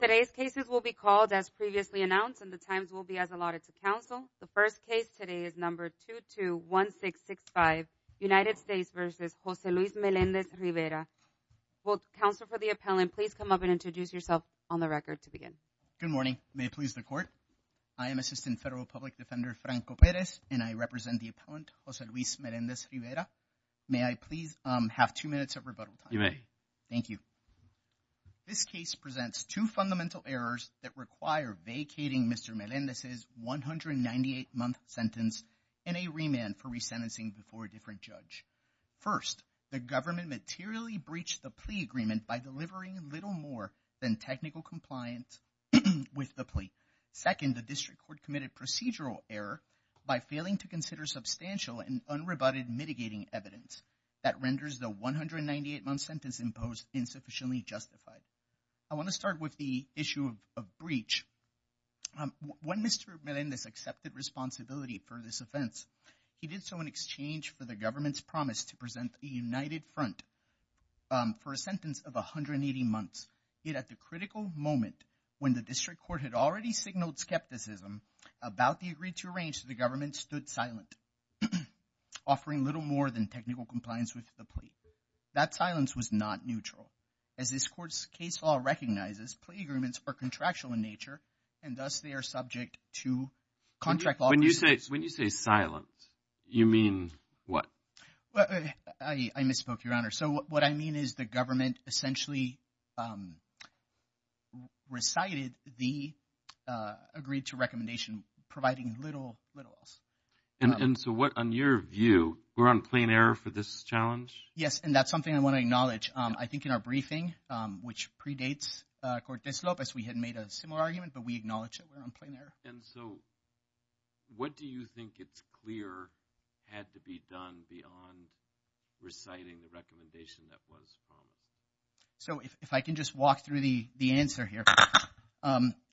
Today's cases will be called as previously announced and the times will be as allotted to counsel. The first case today is number 221665, United States v. Jose Luis Melendez-Rivera. Will counsel for the appellant please come up and introduce yourself on the record to begin. Good morning. May it please the court. I am Assistant Federal Public Defender Franco Perez and I represent the appellant Jose Luis Melendez-Rivera. May I please have two minutes of rebuttal time? You may. Thank you. This case presents two fundamental errors that require vacating Mr. Melendez's 198-month sentence and a remand for resentencing before a different judge. First, the government materially breached the plea agreement by delivering little more than technical compliance with the plea. Second, the district court committed procedural error by failing to consider substantial and unrebutted mitigating evidence that renders the 198-month sentence imposed insufficiently justified. I want to start with the issue of breach. When Mr. Melendez accepted responsibility for this offense, he did so in exchange for the government's promise to present a united front for a sentence of 180 months. Yet at the critical moment when the district court had already signaled skepticism about the agreed-to-arrange, the government stood silent, offering little more than technical compliance with the plea. That silence was not neutral. As this court's case law recognizes, plea agreements are contractual in nature, and thus they are subject to contract law. When you say silent, you mean what? I misspoke, Your Honor. So what I mean is the government essentially recited the agreed-to-recommendation, providing little else. And so what, on your view, we're on plain error for this challenge? Yes, and that's something I want to acknowledge. I think in our briefing, which predates Cortez-Lopez, we had made a similar argument, but we acknowledge that we're on plain error. And so what do you think it's clear had to be done beyond reciting the recommendation that was promised? So if I can just walk through the answer here.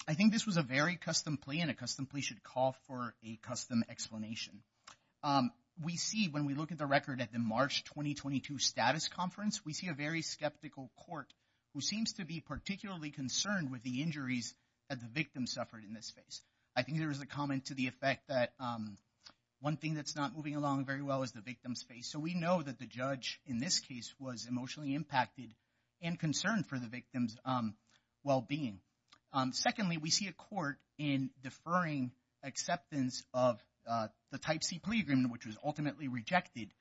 I think this was a very custom plea, and a custom plea should call for a custom explanation. We see, when we look at the record at the March 2022 status conference, we see a very skeptical court who seems to be particularly concerned with the injuries that the victim suffered in this case. I think there was a comment to the effect that one thing that's not moving along very well is the victim's face. So we know that the judge in this case was emotionally impacted and concerned for the victim's well-being. Secondly, we see a court in deferring acceptance of the Type C plea agreement, which was ultimately rejected,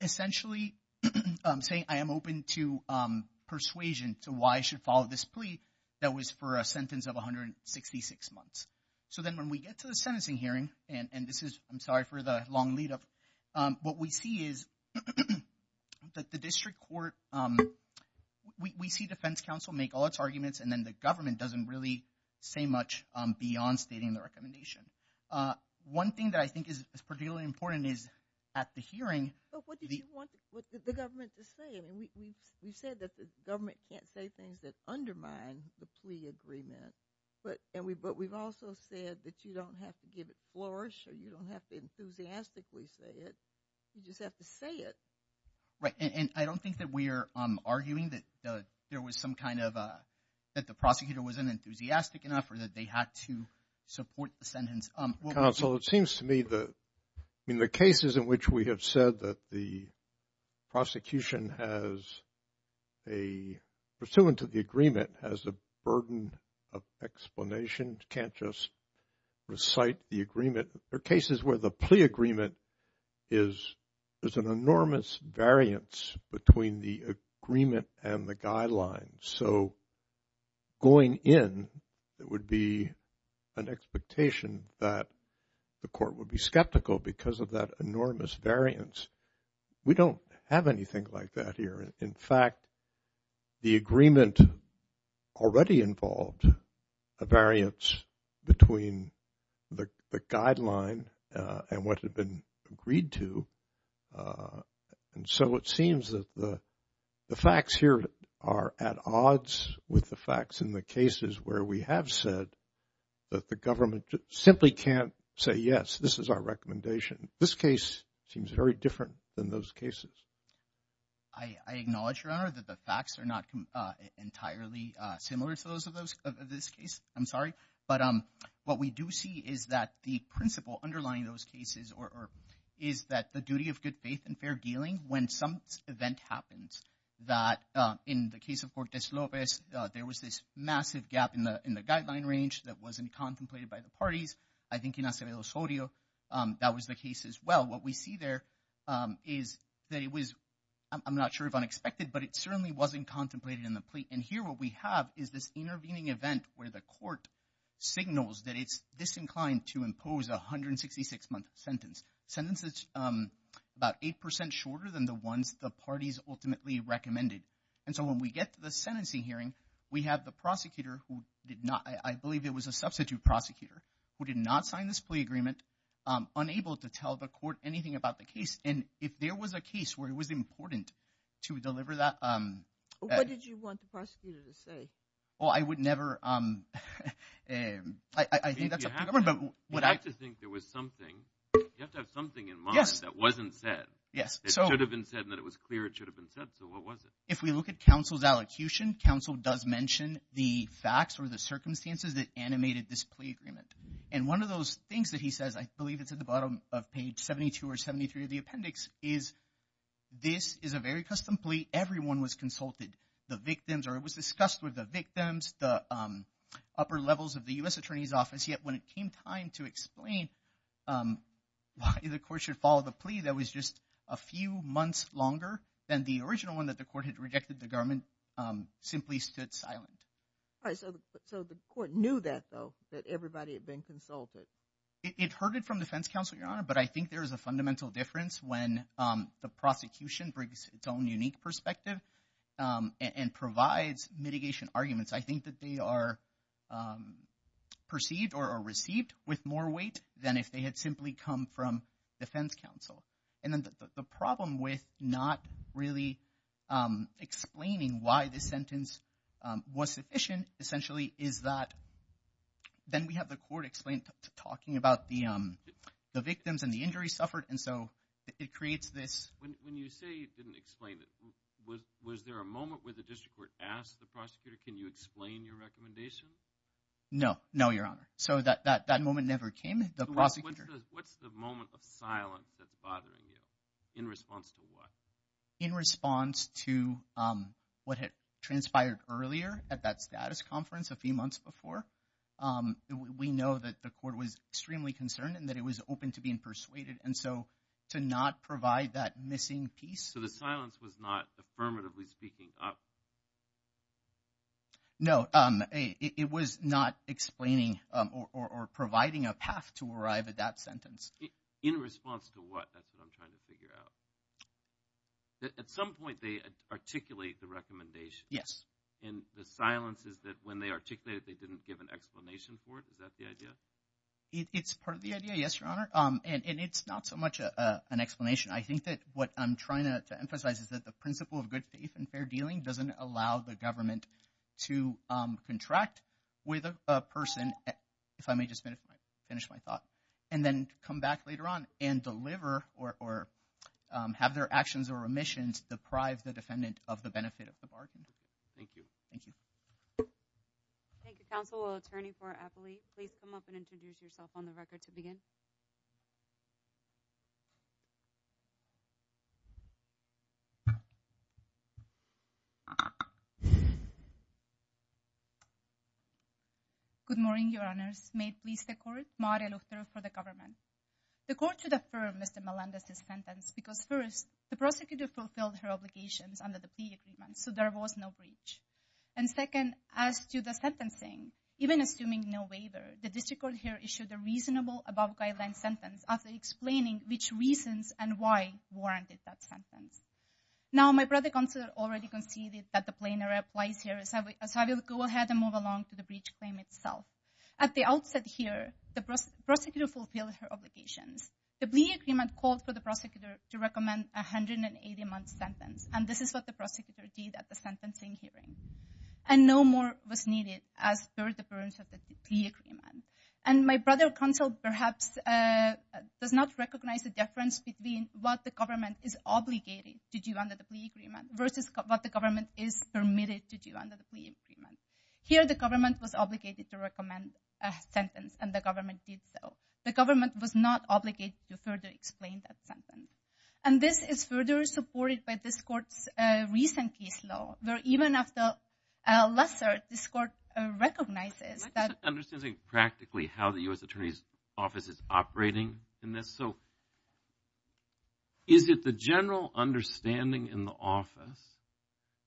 essentially saying, I am open to persuasion to why I should follow this plea that was for a sentence of 166 months. So then when we get to the sentencing hearing, and this is, I'm sorry for the long lead up, what we see is that the district court, we see defense counsel make all its arguments, and then the government doesn't really say much beyond stating the recommendation. One thing that I think is particularly important is at the hearing— But what did you want the government to say? I mean, we've said that the government can't say things that undermine the plea agreement, but we've also said that you don't have to give it flourish, or you don't have to enthusiastically say it. You just have to say it. Right, and I don't think that we are arguing that there was some kind of, that the prosecutor wasn't enthusiastic enough or that they had to support the sentence. Counsel, it seems to me that in the cases in which we have said that the prosecution has a, pursuant to the agreement, has a burden of explanation, can't just recite the agreement, there are cases where the plea agreement is an enormous variance between the agreement and the guidelines. So going in, it would be an expectation that the court would be skeptical because of that enormous variance. We don't have anything like that here. In fact, the agreement already involved a variance between the guideline and what had been agreed to. And so it seems that the facts here are at odds with the facts in the cases where we have said that the government simply can't say, yes, this is our recommendation. This case seems very different than those cases. I acknowledge, Your Honor, that the facts are not entirely similar to those of this case. I'm sorry. But what we do see is that the principle underlying those cases is that the duty of good faith and fair dealing, when some event happens, that in the case of Fortes-Lopez, there was this massive gap in the guideline range that wasn't contemplated by the parties. I think in Acevedo-Sorio, that was the case as well. What we see there is that it was, I'm not sure if unexpected, but it certainly wasn't contemplated in the plea. And here what we have is this intervening event where the court signals that it's disinclined to impose a 166-month sentence, a sentence that's about 8 percent shorter than the ones the parties ultimately recommended. And so when we get to the sentencing hearing, we have the prosecutor who did not – I believe it was a substitute prosecutor who did not sign this plea agreement, unable to tell the court anything about the case. And if there was a case where it was important to deliver that – What did you want the prosecutor to say? Well, I would never – I think that's up to the government. You have to think there was something. You have to have something in mind that wasn't said. Yes. It should have been said and that it was clear it should have been said, so what was it? If we look at counsel's allocution, counsel does mention the facts or the circumstances that animated this plea agreement. And one of those things that he says, I believe it's at the bottom of page 72 or 73 of the appendix, is this is a very custom plea. Everyone was consulted, the victims, or it was discussed with the victims, the upper levels of the U.S. Attorney's Office. Yet when it came time to explain why the court should follow the plea that was just a few months longer than the original one that the court had rejected, the government simply stood silent. All right. So the court knew that, though, that everybody had been consulted? It heard it from defense counsel, Your Honor, but I think there is a fundamental difference when the prosecution brings its own unique perspective and provides mitigation arguments. I think that they are perceived or received with more weight than if they had simply come from defense counsel. And the problem with not really explaining why this sentence was sufficient essentially is that then we have the court explaining, talking about the victims and the injuries suffered. And so it creates this. When you say you didn't explain it, was there a moment where the district court asked the prosecutor, can you explain your recommendation? No. No, Your Honor. So that moment never came. What's the moment of silence that's bothering you in response to what? In response to what had transpired earlier at that status conference a few months before. We know that the court was extremely concerned and that it was open to being persuaded. And so to not provide that missing piece. So the silence was not affirmatively speaking up? No, it was not explaining or providing a path to arrive at that sentence. In response to what? That's what I'm trying to figure out. At some point, they articulate the recommendation. Yes. And the silence is that when they articulate it, they didn't give an explanation for it. Is that the idea? It's part of the idea. Yes, Your Honor. And it's not so much an explanation. I think that what I'm trying to emphasize is that the principle of good faith and fair dealing doesn't allow the government to contract with a person. And if I may just finish my thought. And then come back later on and deliver or have their actions or remissions deprive the defendant of the benefit of the bargain. Thank you. Thank you. Thank you, counsel. Attorney for Appoli, please come up and introduce yourself on the record to begin. Good morning, Your Honors. May it please the court, Maria Luchter for the government. The court should affirm Mr. Melendez's sentence because first, the prosecutor fulfilled her obligations under the plea agreement, so there was no breach. And second, as to the sentencing, even assuming no waiver, the district court here issued a reasonable above guideline sentence after explaining which reasons and why warranted that sentence. Now, my brother counselor already conceded that the plainer applies here, so I will go ahead and move along to the breach claim itself. At the outset here, the prosecutor fulfilled her obligations. The plea agreement called for the prosecutor to recommend a 180-month sentence, and this is what the prosecutor did at the sentencing hearing. And no more was needed as per the terms of the plea agreement. And my brother counsel perhaps does not recognize the difference between what the government is obligated to do under the plea agreement versus what the government is permitted to do under the plea agreement. Here, the government was obligated to recommend a sentence, and the government did so. The government was not obligated to further explain that sentence. And this is further supported by this court's recent case law, where even after Lesser, this court recognizes that… I'm not understanding practically how the U.S. Attorney's Office is operating in this. So is it the general understanding in the office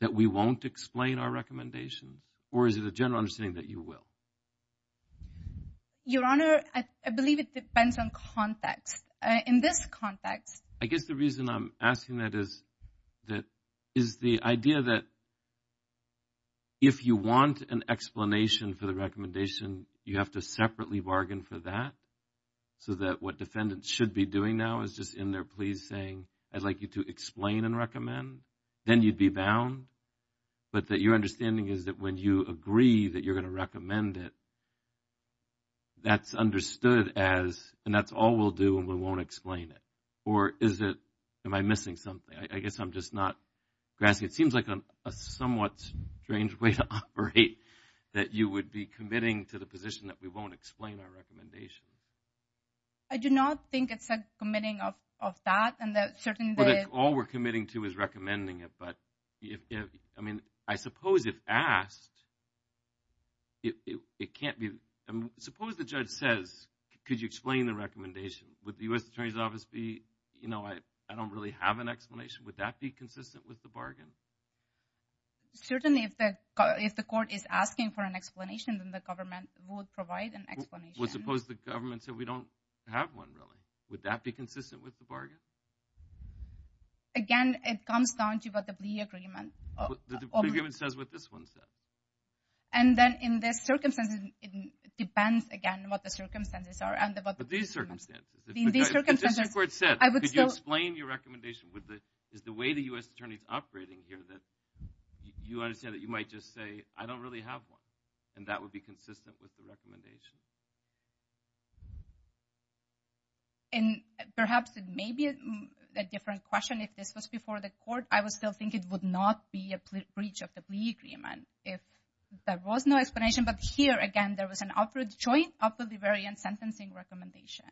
that we won't explain our recommendations, or is it a general understanding that you will? Your Honor, I believe it depends on context. In this context… I guess the reason I'm asking that is the idea that if you want an explanation for the recommendation, you have to separately bargain for that, so that what defendants should be doing now is just in their pleas saying, I'd like you to explain and recommend, then you'd be bound. But that your understanding is that when you agree that you're going to recommend it, that's understood as, and that's all we'll do and we won't explain it. Or is it, am I missing something? I guess I'm just not grasping. It seems like a somewhat strange way to operate, that you would be committing to the position that we won't explain our recommendation. I do not think it's a committing of that, and that certainly… I don't think all we're committing to is recommending it, but if, I mean, I suppose if asked, it can't be. Suppose the judge says, could you explain the recommendation? Would the U.S. Attorney's Office be, you know, I don't really have an explanation. Would that be consistent with the bargain? Certainly, if the court is asking for an explanation, then the government would provide an explanation. Well, suppose the government said, we don't have one, really. Would that be consistent with the bargain? Again, it comes down to what the plea agreement… The agreement says what this one says. And then in this circumstance, it depends, again, what the circumstances are. But these circumstances. In these circumstances, I would still… Could you explain your recommendation? Is the way the U.S. Attorney's operating here that you understand that you might just say, I don't really have one? And that would be consistent with the recommendation? And perhaps it may be a different question if this was before the court. I would still think it would not be a breach of the plea agreement if there was no explanation. But here, again, there was an upward joint, upwardly variant sentencing recommendation.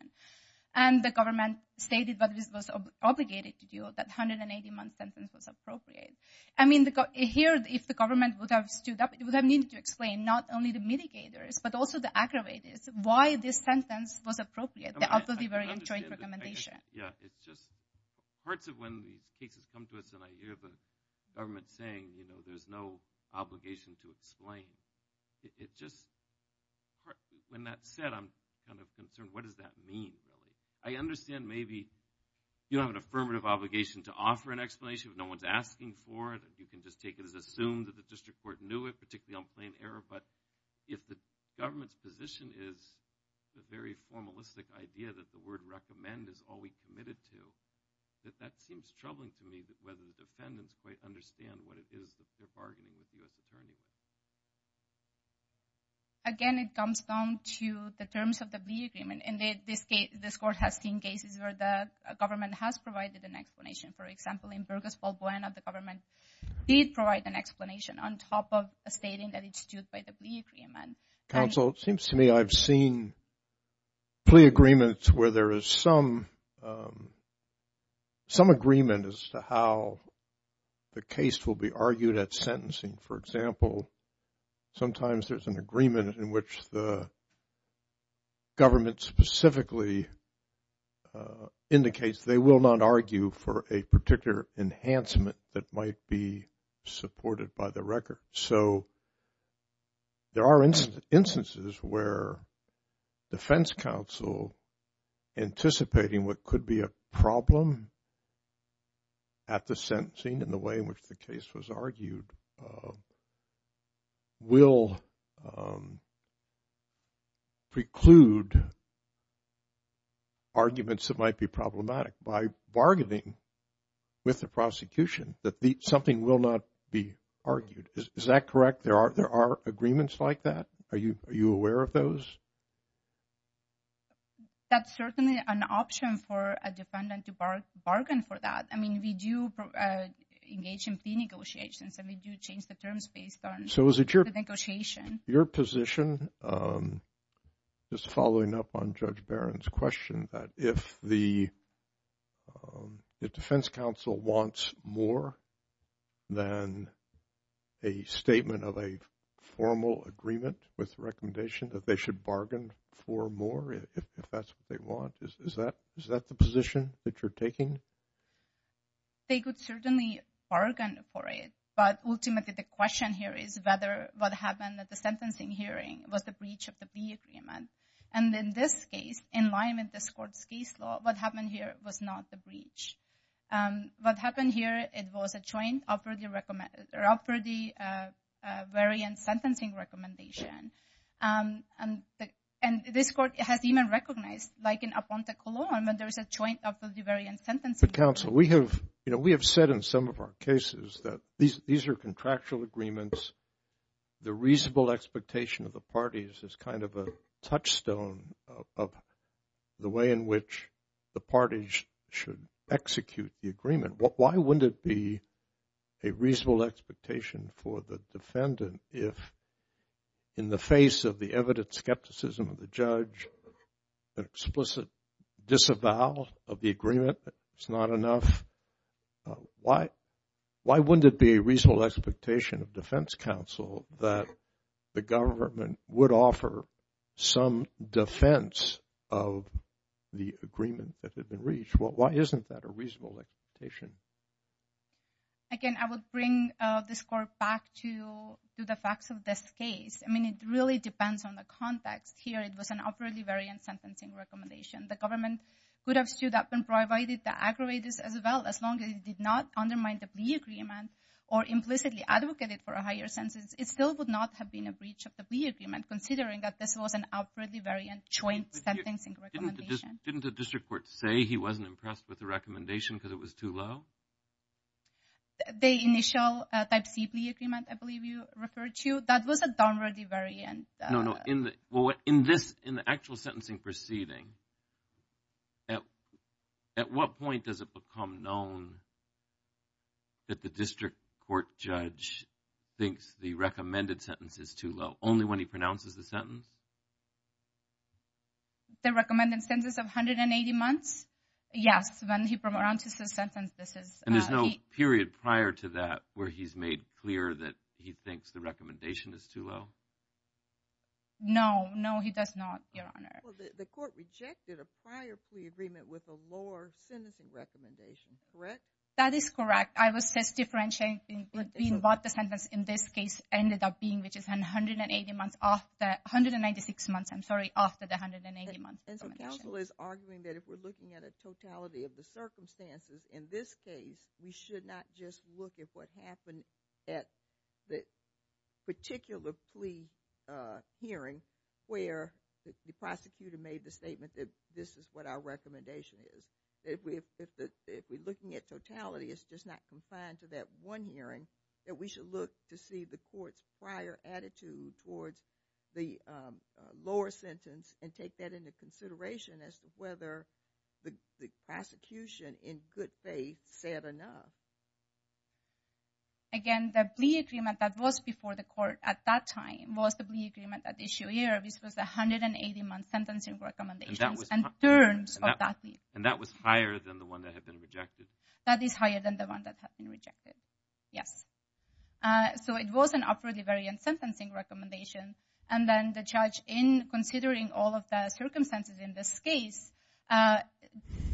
And the government stated what it was obligated to do, that 180-month sentence was appropriate. I mean, here, if the government would have stood up, it would have needed to explain not only the mitigators, but also the aggravators, why this sentence was appropriate, the upwardly variant joint recommendation. Yeah, it's just parts of when these cases come to us and I hear the government saying, you know, there's no obligation to explain. It just… When that's said, I'm kind of concerned. What does that mean, really? I understand maybe you don't have an affirmative obligation to offer an explanation if no one's asking for it. You can just take it as assumed that the district court knew it, particularly on plain error. But if the government's position is the very formalistic idea that the word recommend is all we committed to, that that seems troubling to me whether the defendants quite understand what it is that they're bargaining with U.S. attorneys. Again, it comes down to the terms of the plea agreement. And this court has seen cases where the government has provided an explanation. For example, in Burgess-Paul Boynton, the government did provide an explanation on top of stating that it stood by the plea agreement. Counsel, it seems to me I've seen plea agreements where there is some agreement as to how the case will be argued at sentencing. For example, sometimes there's an agreement in which the government specifically indicates they will not argue for a particular enhancement that might be supported by the record. So there are instances where defense counsel anticipating what could be a problem at the sentencing in the way in which the case was argued will preclude arguments that might be problematic. By bargaining with the prosecution that something will not be argued. Is that correct? There are agreements like that? Are you aware of those? That's certainly an option for a defendant to bargain for that. I mean, we do engage in plea negotiations and we do change the terms based on the negotiation. Your position is following up on Judge Barron's question that if the defense counsel wants more than a statement of a formal agreement with recommendation that they should bargain for more, if that's what they want, is that the position that you're taking? They could certainly bargain for it, but ultimately the question here is whether what happened at the sentencing hearing was the breach of the plea agreement. And in this case, in line with this court's case law, what happened here was not the breach. What happened here, it was a joint upwardly variant sentencing recommendation. And this court has even recognized, like in Aponte Cologne, that there is a joint upwardly variant sentencing. But counsel, we have said in some of our cases that these are contractual agreements. The reasonable expectation of the parties is kind of a touchstone of the way in which the parties should execute the agreement. Why wouldn't it be a reasonable expectation for the defendant if, in the face of the evident skepticism of the judge, an explicit disavowal of the agreement, it's not enough? Why wouldn't it be a reasonable expectation of defense counsel that the government would offer some defense of the agreement that had been reached? Why isn't that a reasonable expectation? Again, I would bring this court back to the facts of this case. I mean, it really depends on the context. Here it was an upwardly variant sentencing recommendation. The government could have stood up and provided the aggravators as well, as long as it did not undermine the plea agreement or implicitly advocate it for a higher sentence. It still would not have been a breach of the plea agreement, considering that this was an upwardly variant joint sentencing recommendation. Didn't the district court say he wasn't impressed with the recommendation because it was too low? The initial type C plea agreement, I believe you referred to, that was a downwardly variant. No, no. In the actual sentencing proceeding, at what point does it become known that the district court judge thinks the recommended sentence is too low? Only when he pronounces the sentence? The recommended sentence of 180 months? Yes, when he pronounces the sentence. And there's no period prior to that where he's made clear that he thinks the recommendation is too low? No, no, he does not, Your Honor. Well, the court rejected a prior plea agreement with a lower sentencing recommendation, correct? That is correct. I was just differentiating between what the sentence in this case ended up being, which is 196 months. I'm sorry, after the 180-month recommendation. And so counsel is arguing that if we're looking at a totality of the circumstances in this case, we should not just look at what happened at the particular plea hearing where the prosecutor made the statement that this is what our recommendation is. If we're looking at totality, it's just not confined to that one hearing, that we should look to see the court's prior attitude towards the lower sentence and take that into consideration as to whether the prosecution, in good faith, said enough. Again, the plea agreement that was before the court at that time was the plea agreement at issue here, which was the 180-month sentencing recommendations and terms of that plea. And that was higher than the one that had been rejected? That is higher than the one that had been rejected, yes. So it was an upwardly variant sentencing recommendation, and then the judge, in considering all of the circumstances in this case,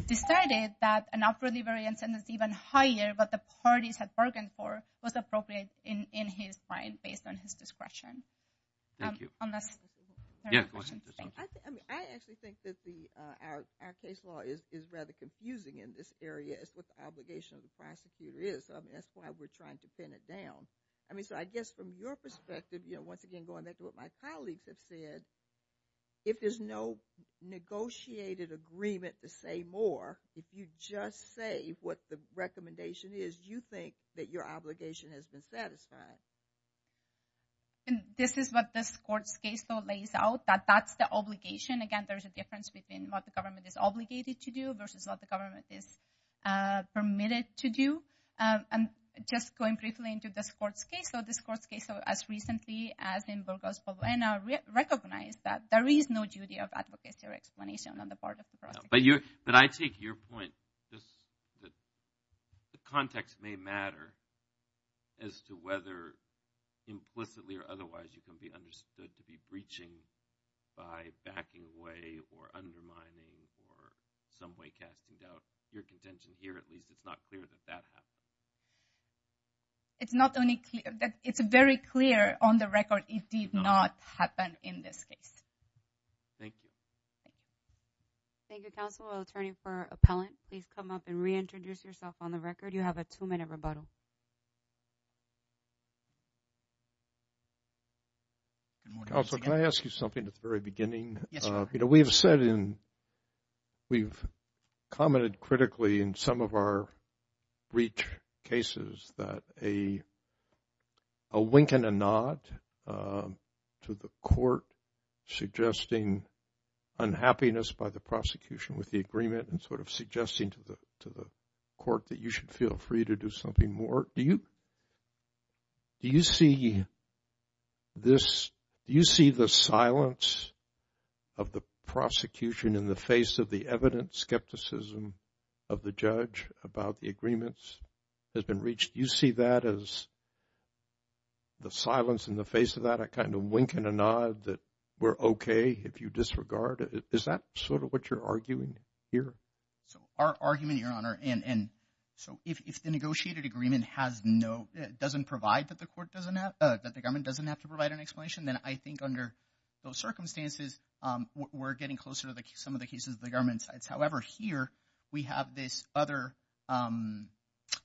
decided that an upwardly variant sentence even higher than what the parties had bargained for was appropriate in his mind based on his discretion. Thank you. I actually think that our case law is rather confusing in this area as to what the obligation of the prosecutor is. That's why we're trying to pin it down. So I guess from your perspective, once again going back to what my colleagues have said, if there's no negotiated agreement to say more, if you just say what the recommendation is, do you think that your obligation has been satisfied? This is what this court's case law lays out, that that's the obligation. Again, there's a difference between what the government is obligated to do versus what the government is permitted to do. And just going briefly into this court's case law, this court's case law, as recently as in Burgos-Poblena, recognized that there is no duty of advocacy or explanation on the part of the prosecutor. But I take your point that the context may matter as to whether implicitly or otherwise you can be understood to be breaching by backing away or undermining or some way casting doubt. Your contention here, at least, it's not clear that that happened. It's very clear on the record it did not happen in this case. Thank you. Thank you, counsel. Attorney for Appellant, please come up and reintroduce yourself on the record. You have a two-minute rebuttal. Counsel, can I ask you something at the very beginning? Yes, sir. You know, we have said in – we've commented critically in some of our breach cases that a wink and a nod to the court suggesting unhappiness by the prosecution with the agreement and sort of suggesting to the court that you should feel free to do something more. Do you see this – do you see the silence of the prosecution in the face of the evidence, skepticism of the judge about the agreements has been reached? Do you see that as the silence in the face of that, a kind of wink and a nod that we're okay if you disregard it? Is that sort of what you're arguing here? So our argument, Your Honor, and so if the negotiated agreement has no – doesn't provide that the court doesn't have – that the government doesn't have to provide an explanation, then I think under those circumstances we're getting closer to some of the cases the government decides. However, here we have this other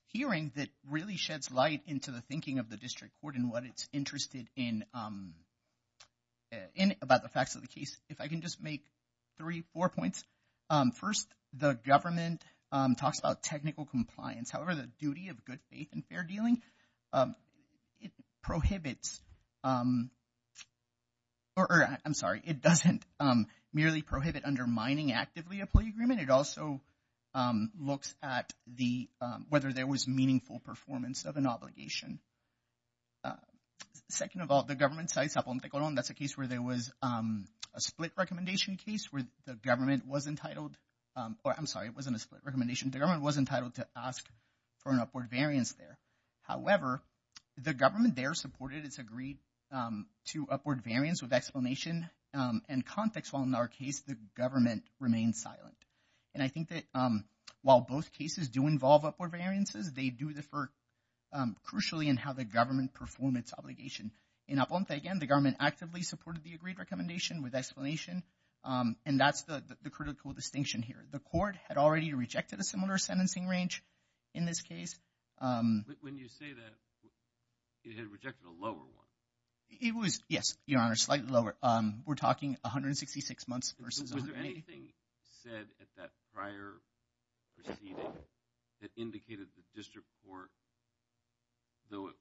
hearing that really sheds light into the thinking of the district court and what it's interested in about the facts of the case. If I can just make three, four points. First, the government talks about technical compliance. However, the duty of good faith and fair dealing, it prohibits – or I'm sorry, it doesn't merely prohibit undermining actively a plea agreement. It also looks at the – whether there was meaningful performance of an obligation. Second of all, the government – that's a case where there was a split recommendation case where the government was entitled – or I'm sorry, it wasn't a split recommendation. The government was entitled to ask for an upward variance there. However, the government there supported its agreed to upward variance with explanation and context, while in our case the government remained silent. And I think that while both cases do involve upward variances, they do differ crucially in how the government performed its obligation. In Aponte, again, the government actively supported the agreed recommendation with explanation, and that's the critical distinction here. The court had already rejected a similar sentencing range in this case. When you say that, it had rejected a lower one. It was – yes, Your Honor, slightly lower. We're talking 166 months versus – Was there anything said at that prior proceeding that indicated the district court, though it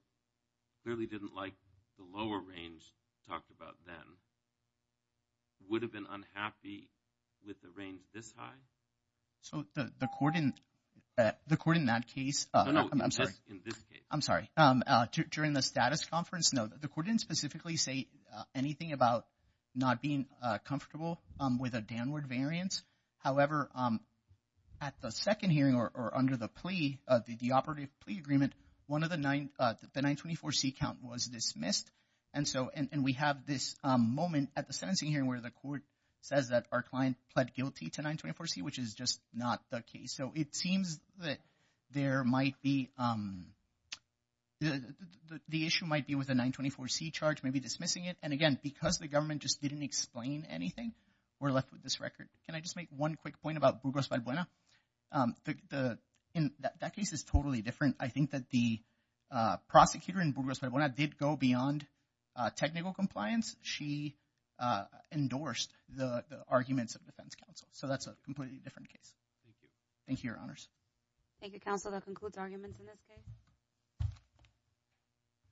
clearly didn't like the lower range talked about then, would have been unhappy with the range this high? So the court in that case – No, no, just in this case. I'm sorry. During the status conference, no, the court didn't specifically say anything about not being comfortable with a downward variance. However, at the second hearing or under the plea, the operative plea agreement, one of the 924C count was dismissed. And so – and we have this moment at the sentencing hearing where the court says that our client pled guilty to 924C, which is just not the case. So it seems that there might be – the issue might be with the 924C charge, maybe dismissing it. And, again, because the government just didn't explain anything, we're left with this record. Can I just make one quick point about Burgos-Valbuena? In that case, it's totally different. I think that the prosecutor in Burgos-Valbuena did go beyond technical compliance. She endorsed the arguments of the defense counsel, so that's a completely different case. Thank you. Thank you, Your Honors. Thank you, Counsel. That concludes arguments in this case.